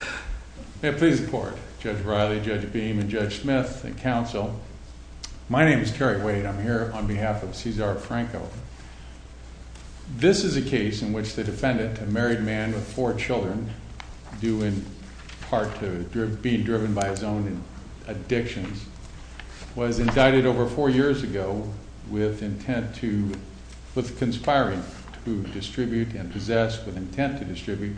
This is a case in which the defendant, a married man with four children due in part to being driven by his own addictions, was indicted over four years ago with the intent to, with the conspiring to distribute and possess, with intent to distribute,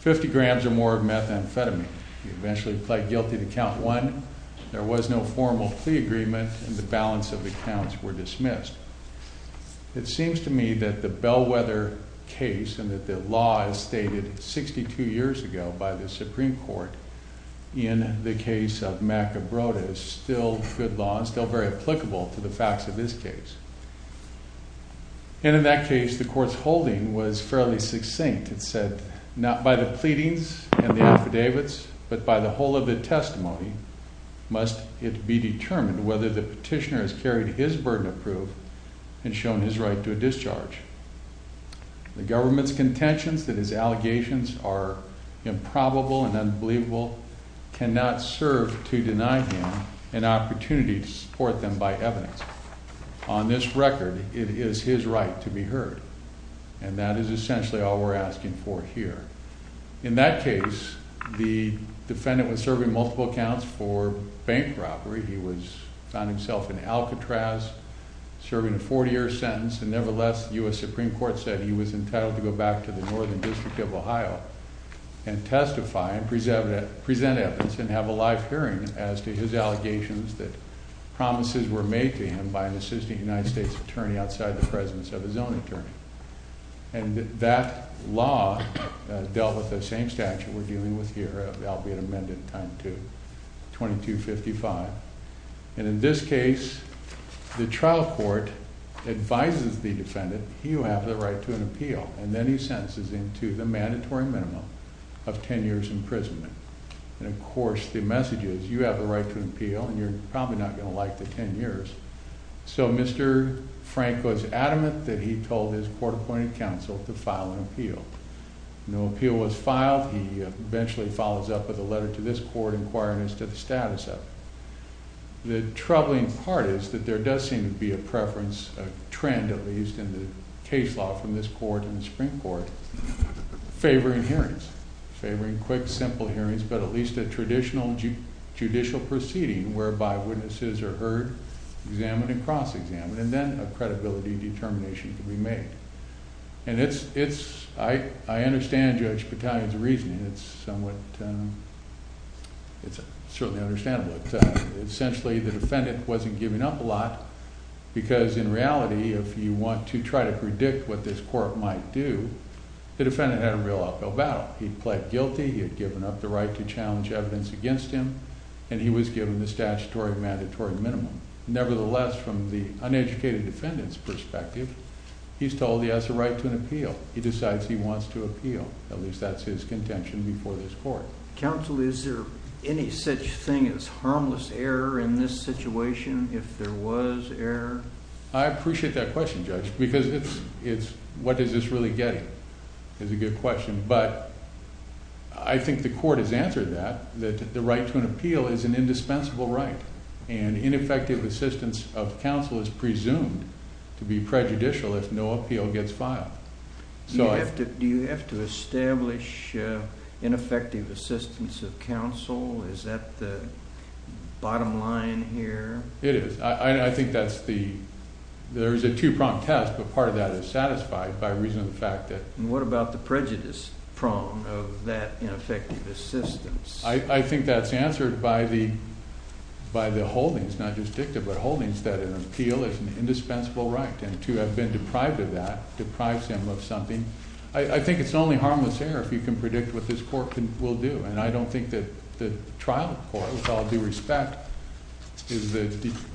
50 grams or more of methadone. He eventually pled guilty to count one, there was no formal plea agreement, and the balance of the counts were dismissed. It seems to me that the Bellwether case and that the law is stated 62 years ago by the Supreme Court in the case of Mac Abroda is still good law and still very applicable to the facts of this case. And in that case, the court's holding was fairly succinct. It said, not by the pleadings and the affidavits, but by the whole of the testimony, must it be determined whether the petitioner has carried his burden of proof and shown his right to a discharge. The government's contentions that his allegations are improbable and unbelievable cannot serve to deny him an opportunity to support them by evidence. On this record, it is his right to be heard, and that is essentially all we're asking for here. In that case, the defendant was serving multiple counts for bank robbery. He found himself in Alcatraz, serving a 40-year sentence, and nevertheless, the U.S. Supreme Court said he was entitled to go back to the Northern District of Ohio and testify and present evidence and have a live hearing as to his allegations that promises were made to him by an assistant United States attorney outside the presence of his own attorney. And that law dealt with the same statute we're dealing with here, albeit amended, time 2, 2255. And in this case, the trial court advises the defendant, you have the right to an appeal, and then he sentences him to the mandatory minimum of 10 years imprisonment. And of course, the message is, you have the right to an appeal, and you're probably not going to like the 10 years. So Mr. Frank was adamant that he told his court-appointed counsel to file an appeal. No appeal was filed. He eventually follows up with a letter to this court inquiring as to the status of it. The troubling part is that there does seem to be a preference, a trend at least in the case law from this court and the Supreme Court, favoring hearings. Favoring quick, simple hearings, but at least a traditional judicial proceeding whereby witnesses are heard, examined, and cross-examined, and then a credibility determination can be made. And it's, I understand Judge Battaglia's reasoning. It's somewhat, it's certainly understandable. Essentially, the defendant wasn't giving up a lot, because in reality, if you want to try to predict what this court might do, the defendant had a real uphill battle. He pled guilty, he had given up the right to challenge evidence against him, and he was given the statutory mandatory minimum. Nevertheless, from the uneducated defendant's perspective, he's told he has the right to an appeal. He decides he wants to appeal. At least that's his contention before this court. Counsel, is there any such thing as harmless error in this situation, if there was error? I appreciate that question, Judge, because it's, what does this really get at, is a good question. But I think the court has answered that, that the right to an appeal is an indispensable right. And ineffective assistance of counsel is presumed to be prejudicial if no appeal gets filed. Do you have to establish ineffective assistance of counsel? Is that the bottom line here? It is. I think that's the, there's a two-prong test, but part of that is satisfied by reason of the fact that… And what about the prejudice prong of that ineffective assistance? I think that's answered by the holdings, not just dicta, but holdings that an appeal is an indispensable right. And to have been deprived of that deprives him of something. I think it's only harmless error if you can predict what this court will do. And I don't think that the trial court, with all due respect, is the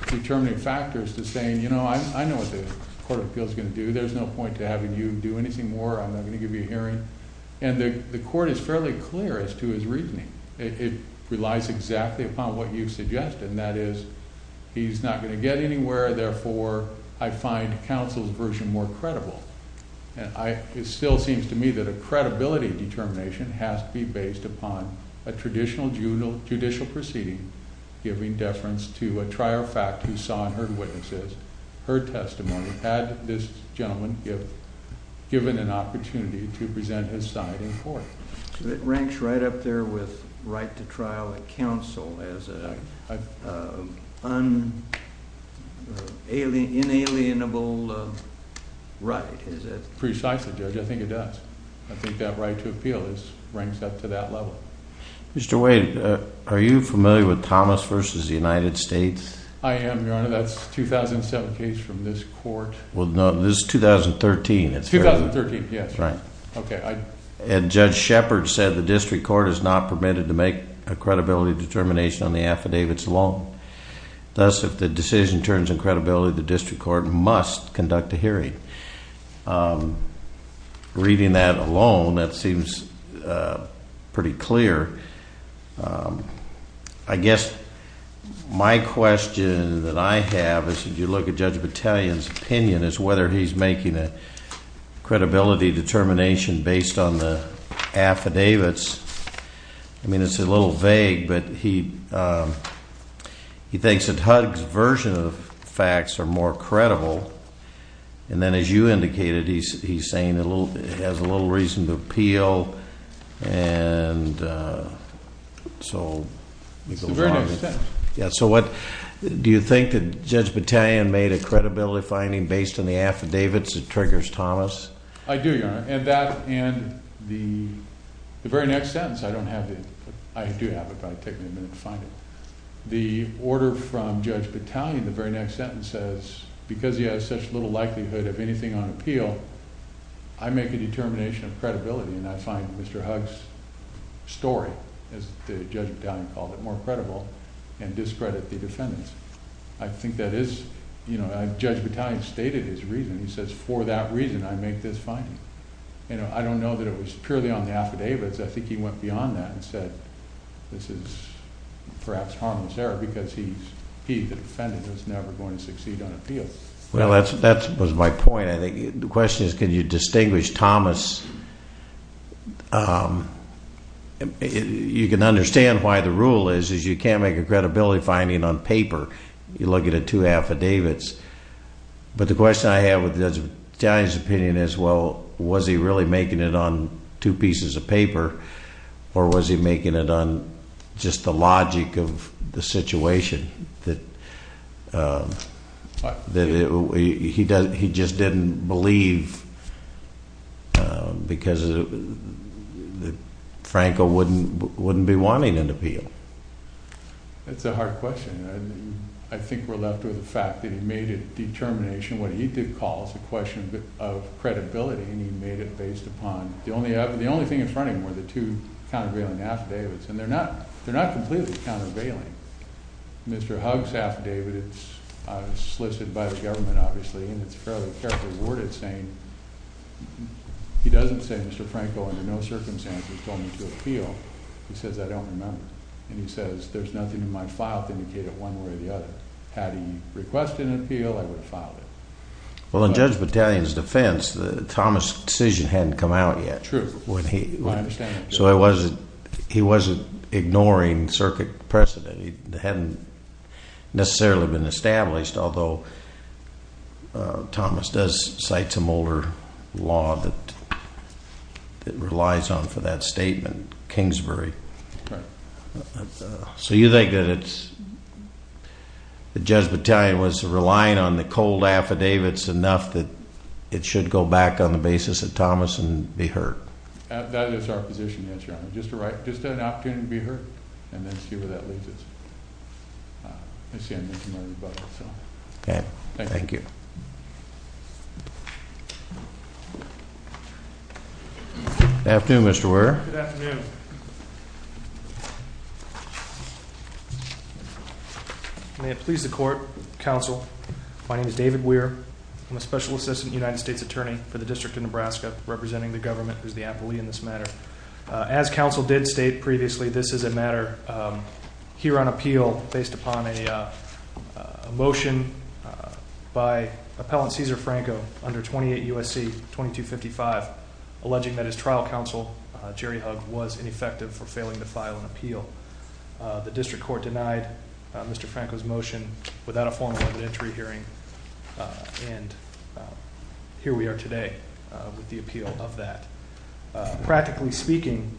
determining factor as to saying, you know, I know what the court of appeals is going to do. There's no point to having you do anything more. I'm not going to give you a hearing. And the court is fairly clear as to his reasoning. It relies exactly upon what you've suggested, and that is, he's not going to get anywhere, therefore I find counsel's version more credible. And it still seems to me that a credibility determination has to be based upon a traditional judicial proceeding giving deference to a trier fact who saw and heard witnesses, heard testimony, had this gentleman given an opportunity to present his side in court. So it ranks right up there with right to trial at counsel as an inalienable right, is it? Precisely, Judge. I think it does. I think that right to appeal ranks up to that level. Mr. Wade, are you familiar with Thomas v. United States? I am, Your Honor. That's a 2007 case from this court. Well, no, this is 2013. It's 2013, yes. Right. Okay. And Judge Shepard said the district court is not permitted to make a credibility determination on the affidavits alone. Thus, if the decision turns in credibility, the district court must conduct a hearing. Reading that alone, that seems pretty clear. I guess my question that I have is, if you look at Judge Battalion's opinion, is whether he's making a credibility determination based on the affidavits. I mean, it's a little vague, but he thinks that Huggs' version of the facts are more credible. And then, as you indicated, he's saying it has a little reason to appeal. And so, it goes on. It's the very next sentence. Yeah, so what, do you think that Judge Battalion made a credibility finding based on the affidavits that triggers Thomas? I do, Your Honor. And that, and the very next sentence, I don't have it. I do have it, but it would take me a minute to find it. The order from Judge Battalion, the very next sentence says, because he has such little likelihood of anything on appeal, I make a determination of credibility, and I find Mr. Huggs' story, as Judge Battalion called it, more credible, and discredit the defendants. I think that is, you know, Judge Battalion stated his reason. He says, for that reason, I make this finding. You know, I don't know that it was purely on the affidavits. I think he went beyond that and said, this is perhaps harmless error, because he, the defendant, is never going to succeed on appeal. Well, that was my point. I think the question is, can you distinguish Thomas? You can understand why the rule is, is you can't make a credibility finding on paper. You look at the two affidavits. But the question I have with Judge Battalion's opinion is, well, was he really making it on two pieces of paper, or was he making it on just the logic of the situation that he just didn't believe because Franco wouldn't be wanting an appeal? That's a hard question. I think we're left with the fact that he made a determination, what he did call as a question of credibility, and he made it based upon the only thing in front of him were the two countervailing affidavits. And they're not completely countervailing. Mr. Hugg's affidavit, it's solicited by the government, obviously, and it's fairly carefully worded, saying he doesn't say, Mr. Franco, under no circumstances told me to appeal. He says, I don't remember. And he says, there's nothing in my file to indicate it one way or the other. Had he requested an appeal, I would have filed it. Well, in Judge Battalion's defense, Thomas' decision hadn't come out yet. True. I understand that. So he wasn't ignoring circuit precedent. It hadn't necessarily been established, although Thomas does cite some older law that relies on for that statement, Kingsbury. Right. So you think that Judge Battalion was relying on the cold affidavits enough that it should go back on the basis of Thomas and be heard? That is our position, yes, Your Honor. Just an opportunity to be heard and then see where that leads us. That's the end of my rebuttal. Okay. Thank you. Good afternoon, Mr. Ware. Good afternoon. May it please the court, counsel, my name is David Ware. I'm a special assistant United States attorney for the District of Nebraska, representing the government as the affilee in this matter. As counsel did state previously, this is a matter here on appeal based upon a motion by Appellant Cesar Franco under 28 U.S.C. 2255, alleging that his trial counsel, Jerry Hugg, was ineffective for failing to file an appeal. The district court denied Mr. Franco's motion without a formal evidentiary hearing, and here we are today with the appeal of that. Practically speaking,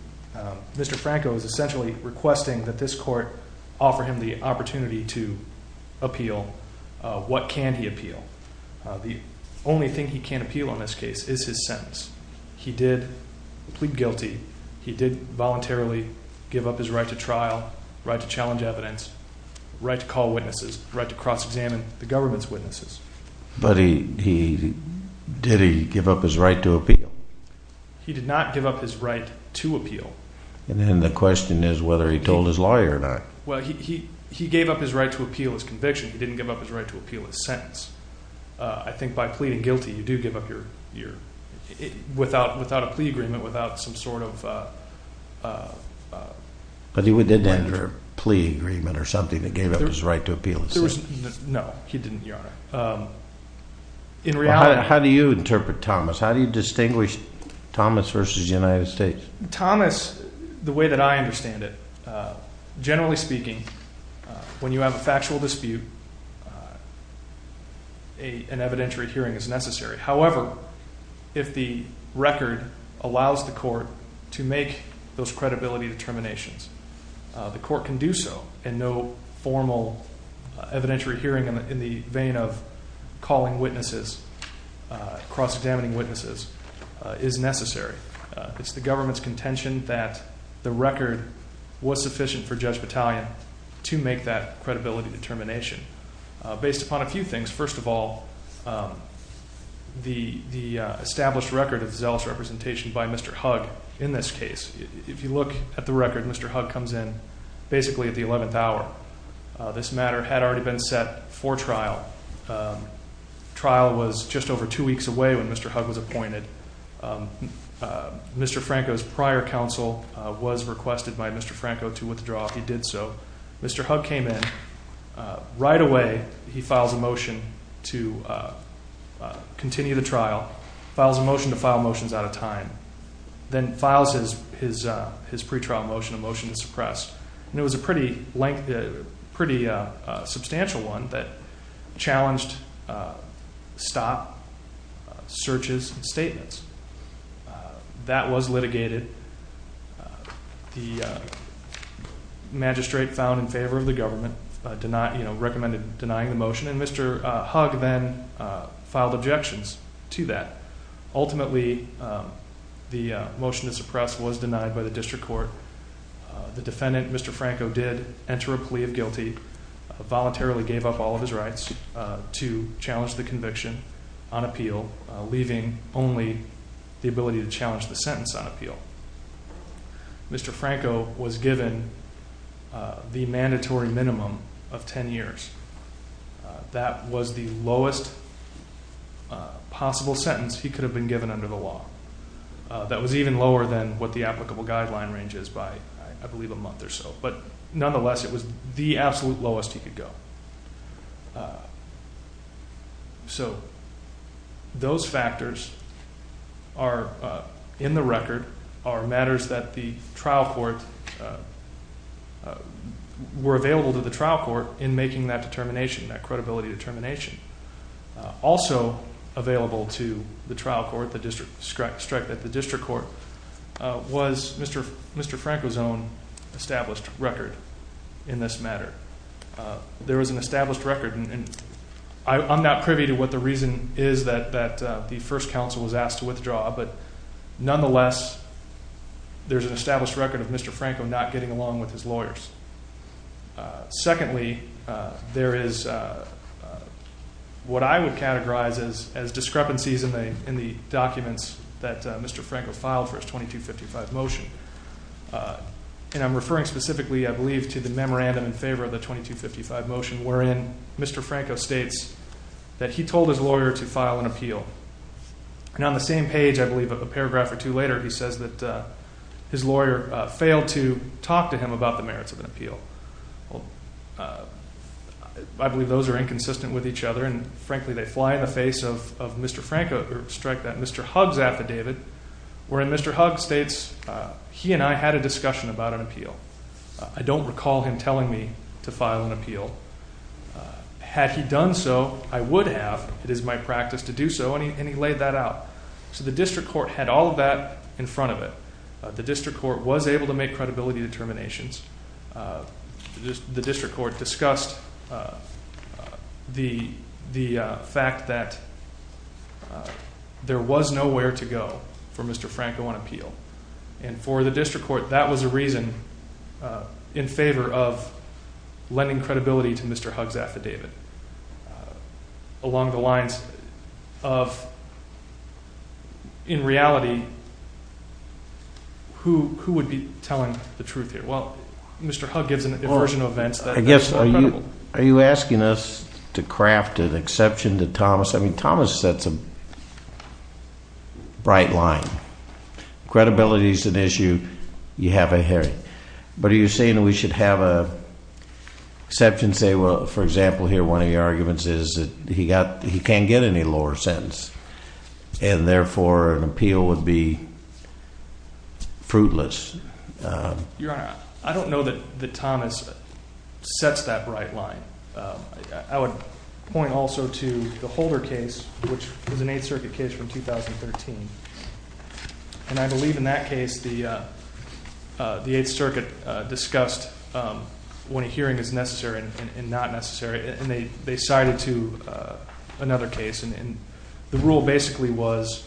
Mr. Franco is essentially requesting that this court offer him the opportunity to appeal. What can he appeal? The only thing he can appeal on this case is his sentence. He did plead guilty. He did voluntarily give up his right to trial, right to challenge evidence, right to call witnesses, right to cross-examine the government's witnesses. But did he give up his right to appeal? He did not give up his right to appeal. And then the question is whether he told his lawyer or not. Well, he gave up his right to appeal his conviction. He didn't give up his right to appeal his sentence. I think by pleading guilty, you do give up your – without a plea agreement, without some sort of – But he didn't enter a plea agreement or something that gave up his right to appeal his sentence. No, he didn't, Your Honor. In reality – How do you interpret Thomas? How do you distinguish Thomas versus the United States? Thomas, the way that I understand it, generally speaking, when you have a factual dispute, an evidentiary hearing is necessary. However, if the record allows the court to make those credibility determinations, the court can do so. And no formal evidentiary hearing in the vein of calling witnesses, cross-examining witnesses, is necessary. It's the government's contention that the record was sufficient for Judge Battaglia to make that credibility determination. Based upon a few things, first of all, the established record of zealous representation by Mr. Hugg in this case. If you look at the record, Mr. Hugg comes in basically at the 11th hour. This matter had already been set for trial. Trial was just over two weeks away when Mr. Hugg was appointed. Mr. Franco's prior counsel was requested by Mr. Franco to withdraw. He did so. Mr. Hugg came in. Right away, he files a motion to continue the trial. Files a motion to file motions out of time. Then files his pretrial motion, a motion to suppress. And it was a pretty substantial one that challenged stop, searches, and statements. That was litigated. The magistrate found in favor of the government recommended denying the motion, and Mr. Hugg then filed objections to that. Ultimately, the motion to suppress was denied by the district court. The defendant, Mr. Franco, did enter a plea of guilty, voluntarily gave up all of his rights to challenge the conviction on appeal, leaving only the ability to challenge the sentence on appeal. Mr. Franco was given the mandatory minimum of 10 years. That was the lowest possible sentence he could have been given under the law. That was even lower than what the applicable guideline range is by, I believe, a month or so. But nonetheless, it was the absolute lowest he could go. So those factors are in the record, are matters that the trial court were available to the trial court in making that determination, that credibility determination. Also available to the trial court, the district court, was Mr. Franco's own established record in this matter. There was an established record, and I'm not privy to what the reason is that the first counsel was asked to withdraw. But nonetheless, there's an established record of Mr. Franco not getting along with his lawyers. Secondly, there is what I would categorize as discrepancies in the documents that Mr. Franco filed for his 2255 motion. And I'm referring specifically, I believe, to the memorandum in favor of the 2255 motion, wherein Mr. Franco states that he told his lawyer to file an appeal. And on the same page, I believe, a paragraph or two later, he says that his lawyer failed to talk to him about the merits of an appeal. I believe those are inconsistent with each other, and frankly, they fly in the face of Mr. Franco, or strike that Mr. Huggs affidavit, wherein Mr. Huggs states, he and I had a discussion about an appeal. I don't recall him telling me to file an appeal. Had he done so, I would have. It is my practice to do so, and he laid that out. So the district court had all of that in front of it. The district court was able to make credibility determinations. The district court discussed the fact that there was nowhere to go for Mr. Franco on appeal. And for the district court, that was a reason in favor of lending credibility to Mr. Huggs' affidavit. Along the lines of, in reality, who would be telling the truth here? Well, Mr. Huggs gives an aversion of events. Are you asking us to craft an exception to Thomas? I mean, Thomas sets a bright line. Credibility is an issue. You have it here. But are you saying we should have an exception, say, well, for example, here, one of your arguments is that he can't get any lower sentence, and therefore, an appeal would be fruitless. Your Honor, I don't know that Thomas sets that bright line. I would point also to the Holder case, which was an Eighth Circuit case from 2013. And I believe in that case, the Eighth Circuit discussed when a hearing is necessary and not necessary, and they cited to another case. And the rule basically was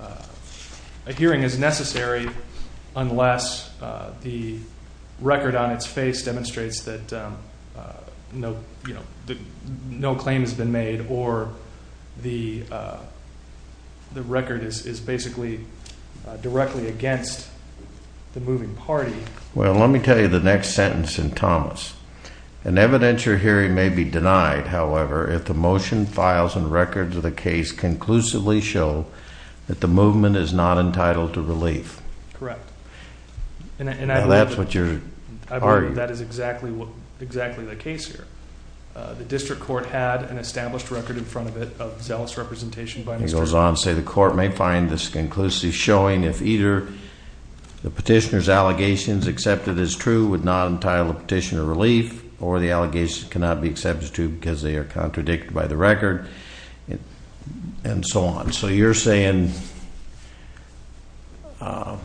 a hearing is necessary unless the record on its face demonstrates that no claim has been made or the record is basically directly against the moving party. Well, let me tell you the next sentence in Thomas. An evidentiary hearing may be denied, however, if the motion, files, and records of the case conclusively show that the movement is not entitled to relief. Correct. And that's what you're arguing. I believe that is exactly the case here. The district court had an established record in front of it of zealous representation by Mr. Huggs. He goes on to say the court may find this conclusively showing if either the petitioner's allegations accepted as true would not entitle the petitioner relief, or the allegations cannot be accepted as true because they are contradicted by the record, and so on. So you're saying that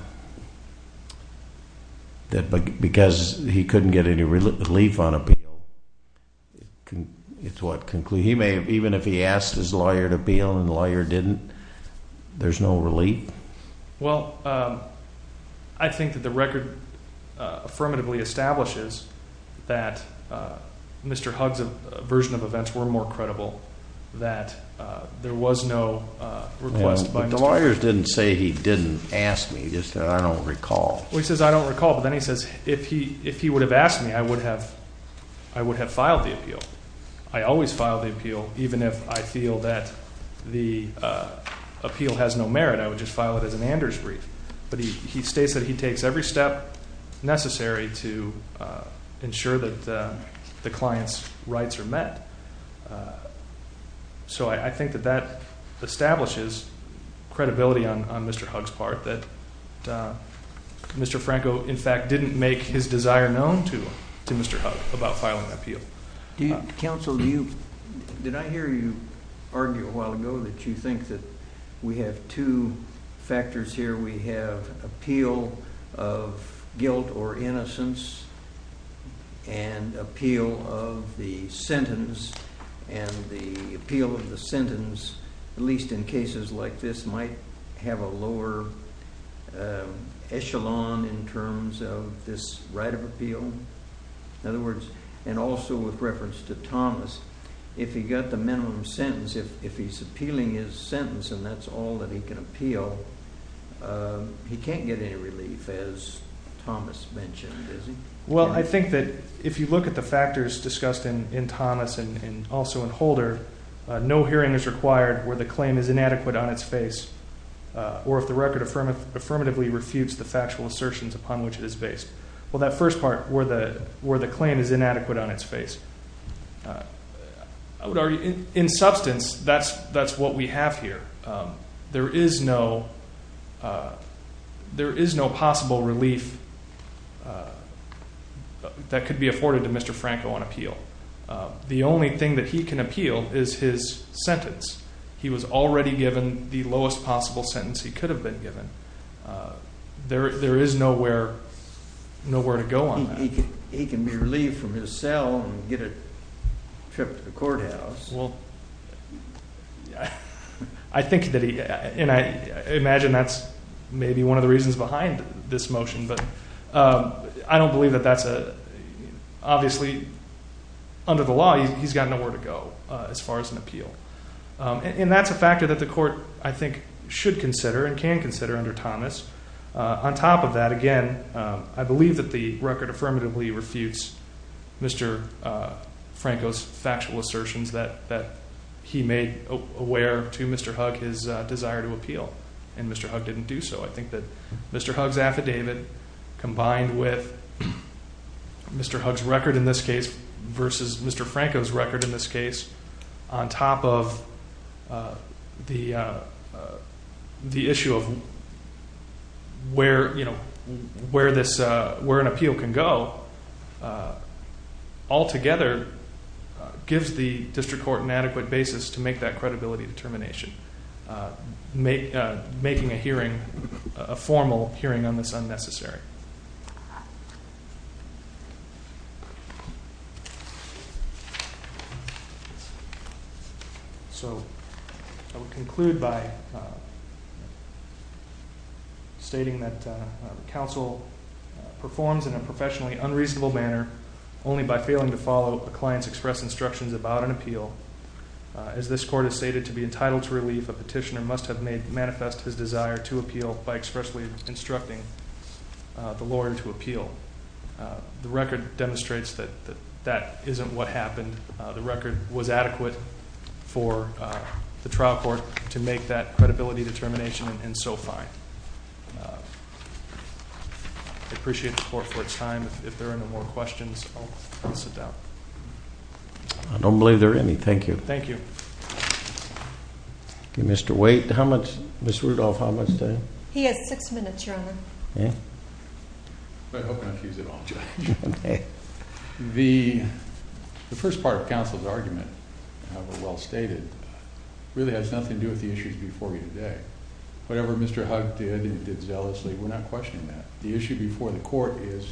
because he couldn't get any relief on appeal, it's what concluded. Even if he asked his lawyer to appeal and the lawyer didn't, there's no relief? Well, I think that the record affirmatively establishes that Mr. Huggs' version of events were more credible, that there was no request by Mr. Huggs. The lawyer didn't say he didn't ask me. He just said I don't recall. Well, he says I don't recall, but then he says if he would have asked me, I would have filed the appeal. I always file the appeal, even if I feel that the appeal has no merit. I would just file it as an Anders brief. But he states that he takes every step necessary to ensure that the client's rights are met. So I think that that establishes credibility on Mr. Huggs' part, that Mr. Franco, in fact, didn't make his desire known to Mr. Huggs about filing the appeal. Counsel, did I hear you argue a while ago that you think that we have two factors here? We have appeal of guilt or innocence and appeal of the sentence. And the appeal of the sentence, at least in cases like this, might have a lower echelon in terms of this right of appeal. In other words, and also with reference to Thomas, if he got the minimum sentence, if he's appealing his sentence and that's all that he can appeal, he can't get any relief, as Thomas mentioned, is he? Well, I think that if you look at the factors discussed in Thomas and also in Holder, no hearing is required where the claim is inadequate on its face or if the record affirmatively refutes the factual assertions upon which it is based. Well, that first part where the claim is inadequate on its face, I would argue in substance that's what we have here. There is no possible relief that could be afforded to Mr. Franco on appeal. The only thing that he can appeal is his sentence. He was already given the lowest possible sentence he could have been given. There is nowhere to go on that. He can be relieved from his cell and get a trip to the courthouse. Well, I think that he, and I imagine that's maybe one of the reasons behind this motion, but I don't believe that that's a, obviously under the law, he's got nowhere to go as far as an appeal. And that's a factor that the court, I think, should consider and can consider under Thomas. On top of that, again, I believe that the record affirmatively refutes Mr. Franco's factual assertions that he made aware to Mr. Hugg his desire to appeal, and Mr. Hugg didn't do so. I think that Mr. Hugg's affidavit combined with Mr. Hugg's record in this case versus Mr. Franco's record in this case, on top of the issue of where an appeal can go, altogether gives the district court an adequate basis to make that credibility determination, making a hearing, a formal hearing on this unnecessary. So I will conclude by stating that the counsel performs in a professionally unreasonable manner only by failing to follow a client's express instructions about an appeal. As this court has stated, to be entitled to relief, a petitioner must have made manifest his desire to appeal by expressly instructing the lawyer to appeal. The record demonstrates that that isn't what happened. The record was adequate for the trial court to make that credibility determination, and so fine. I appreciate the court for its time. If there are no more questions, I'll sit down. I don't believe there are any. Thank you. Thank you. Mr. Waite, how much, Ms. Rudolph, how much time? He has six minutes, Your Honor. The first part of counsel's argument, however well stated, really has nothing to do with the issues before you today. Whatever Mr. Hugg did, he did zealously. We're not questioning that. The issue before the court is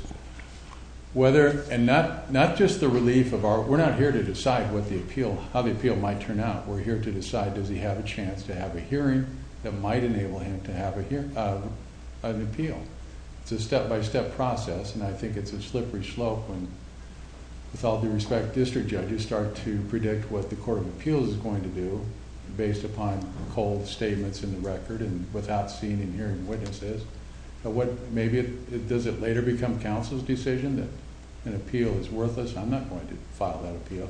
whether, and not just the relief of our, we're not here to decide what the appeal, how the appeal might turn out. We're here to decide does he have a chance to have a hearing that might enable him to have an appeal. It's a step-by-step process, and I think it's a slippery slope when, with all due respect to district judges, start to predict what the court of appeals is going to do based upon cold statements in the record and without seeing and hearing witnesses. Does it later become counsel's decision that an appeal is worthless? I'm not going to file that appeal.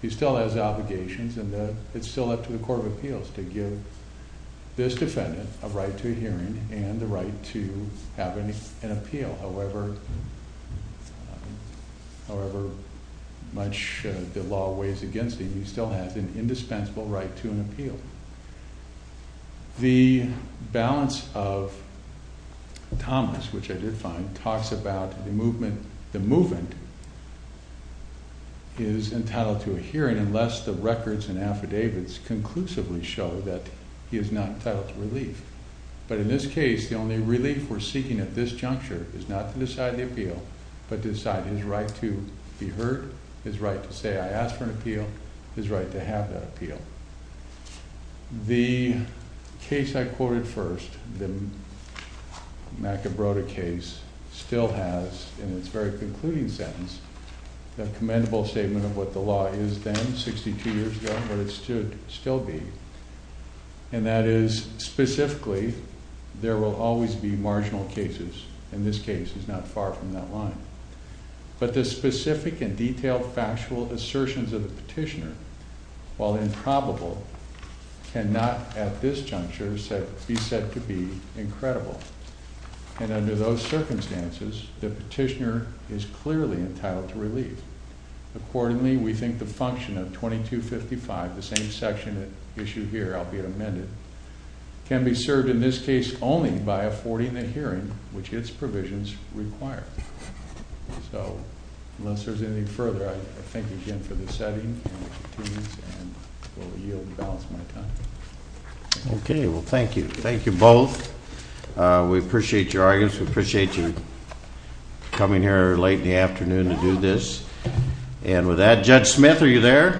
He still has obligations, and it's still up to the court of appeals to give this defendant a right to a hearing and the right to have an appeal. However much the law weighs against him, he still has an indispensable right to an appeal. The balance of Thomas, which I did find, talks about the movement is entitled to a hearing unless the records and affidavits conclusively show that he is not entitled to relief. But in this case, the only relief we're seeking at this juncture is not to decide the appeal, but to decide his right to be heard, his right to say I asked for an appeal, his right to have that appeal. The case I quoted first, the McEbroda case, still has, in its very concluding sentence, a commendable statement of what the law is then, 62 years ago, but it should still be. And that is, specifically, there will always be marginal cases. And this case is not far from that line. But the specific and detailed factual assertions of the petitioner, while improbable, cannot, at this juncture, be said to be incredible. And under those circumstances, the petitioner is clearly entitled to relief. Accordingly, we think the function of 2255, the same section issued here, albeit amended, can be served in this case only by affording a hearing, which its provisions require. So, unless there's anything further, I thank you again for this setting and for your time. Okay, well, thank you. Thank you both. We appreciate your arguments. We appreciate you coming here late in the afternoon to do this. And with that, Judge Smith, are you there?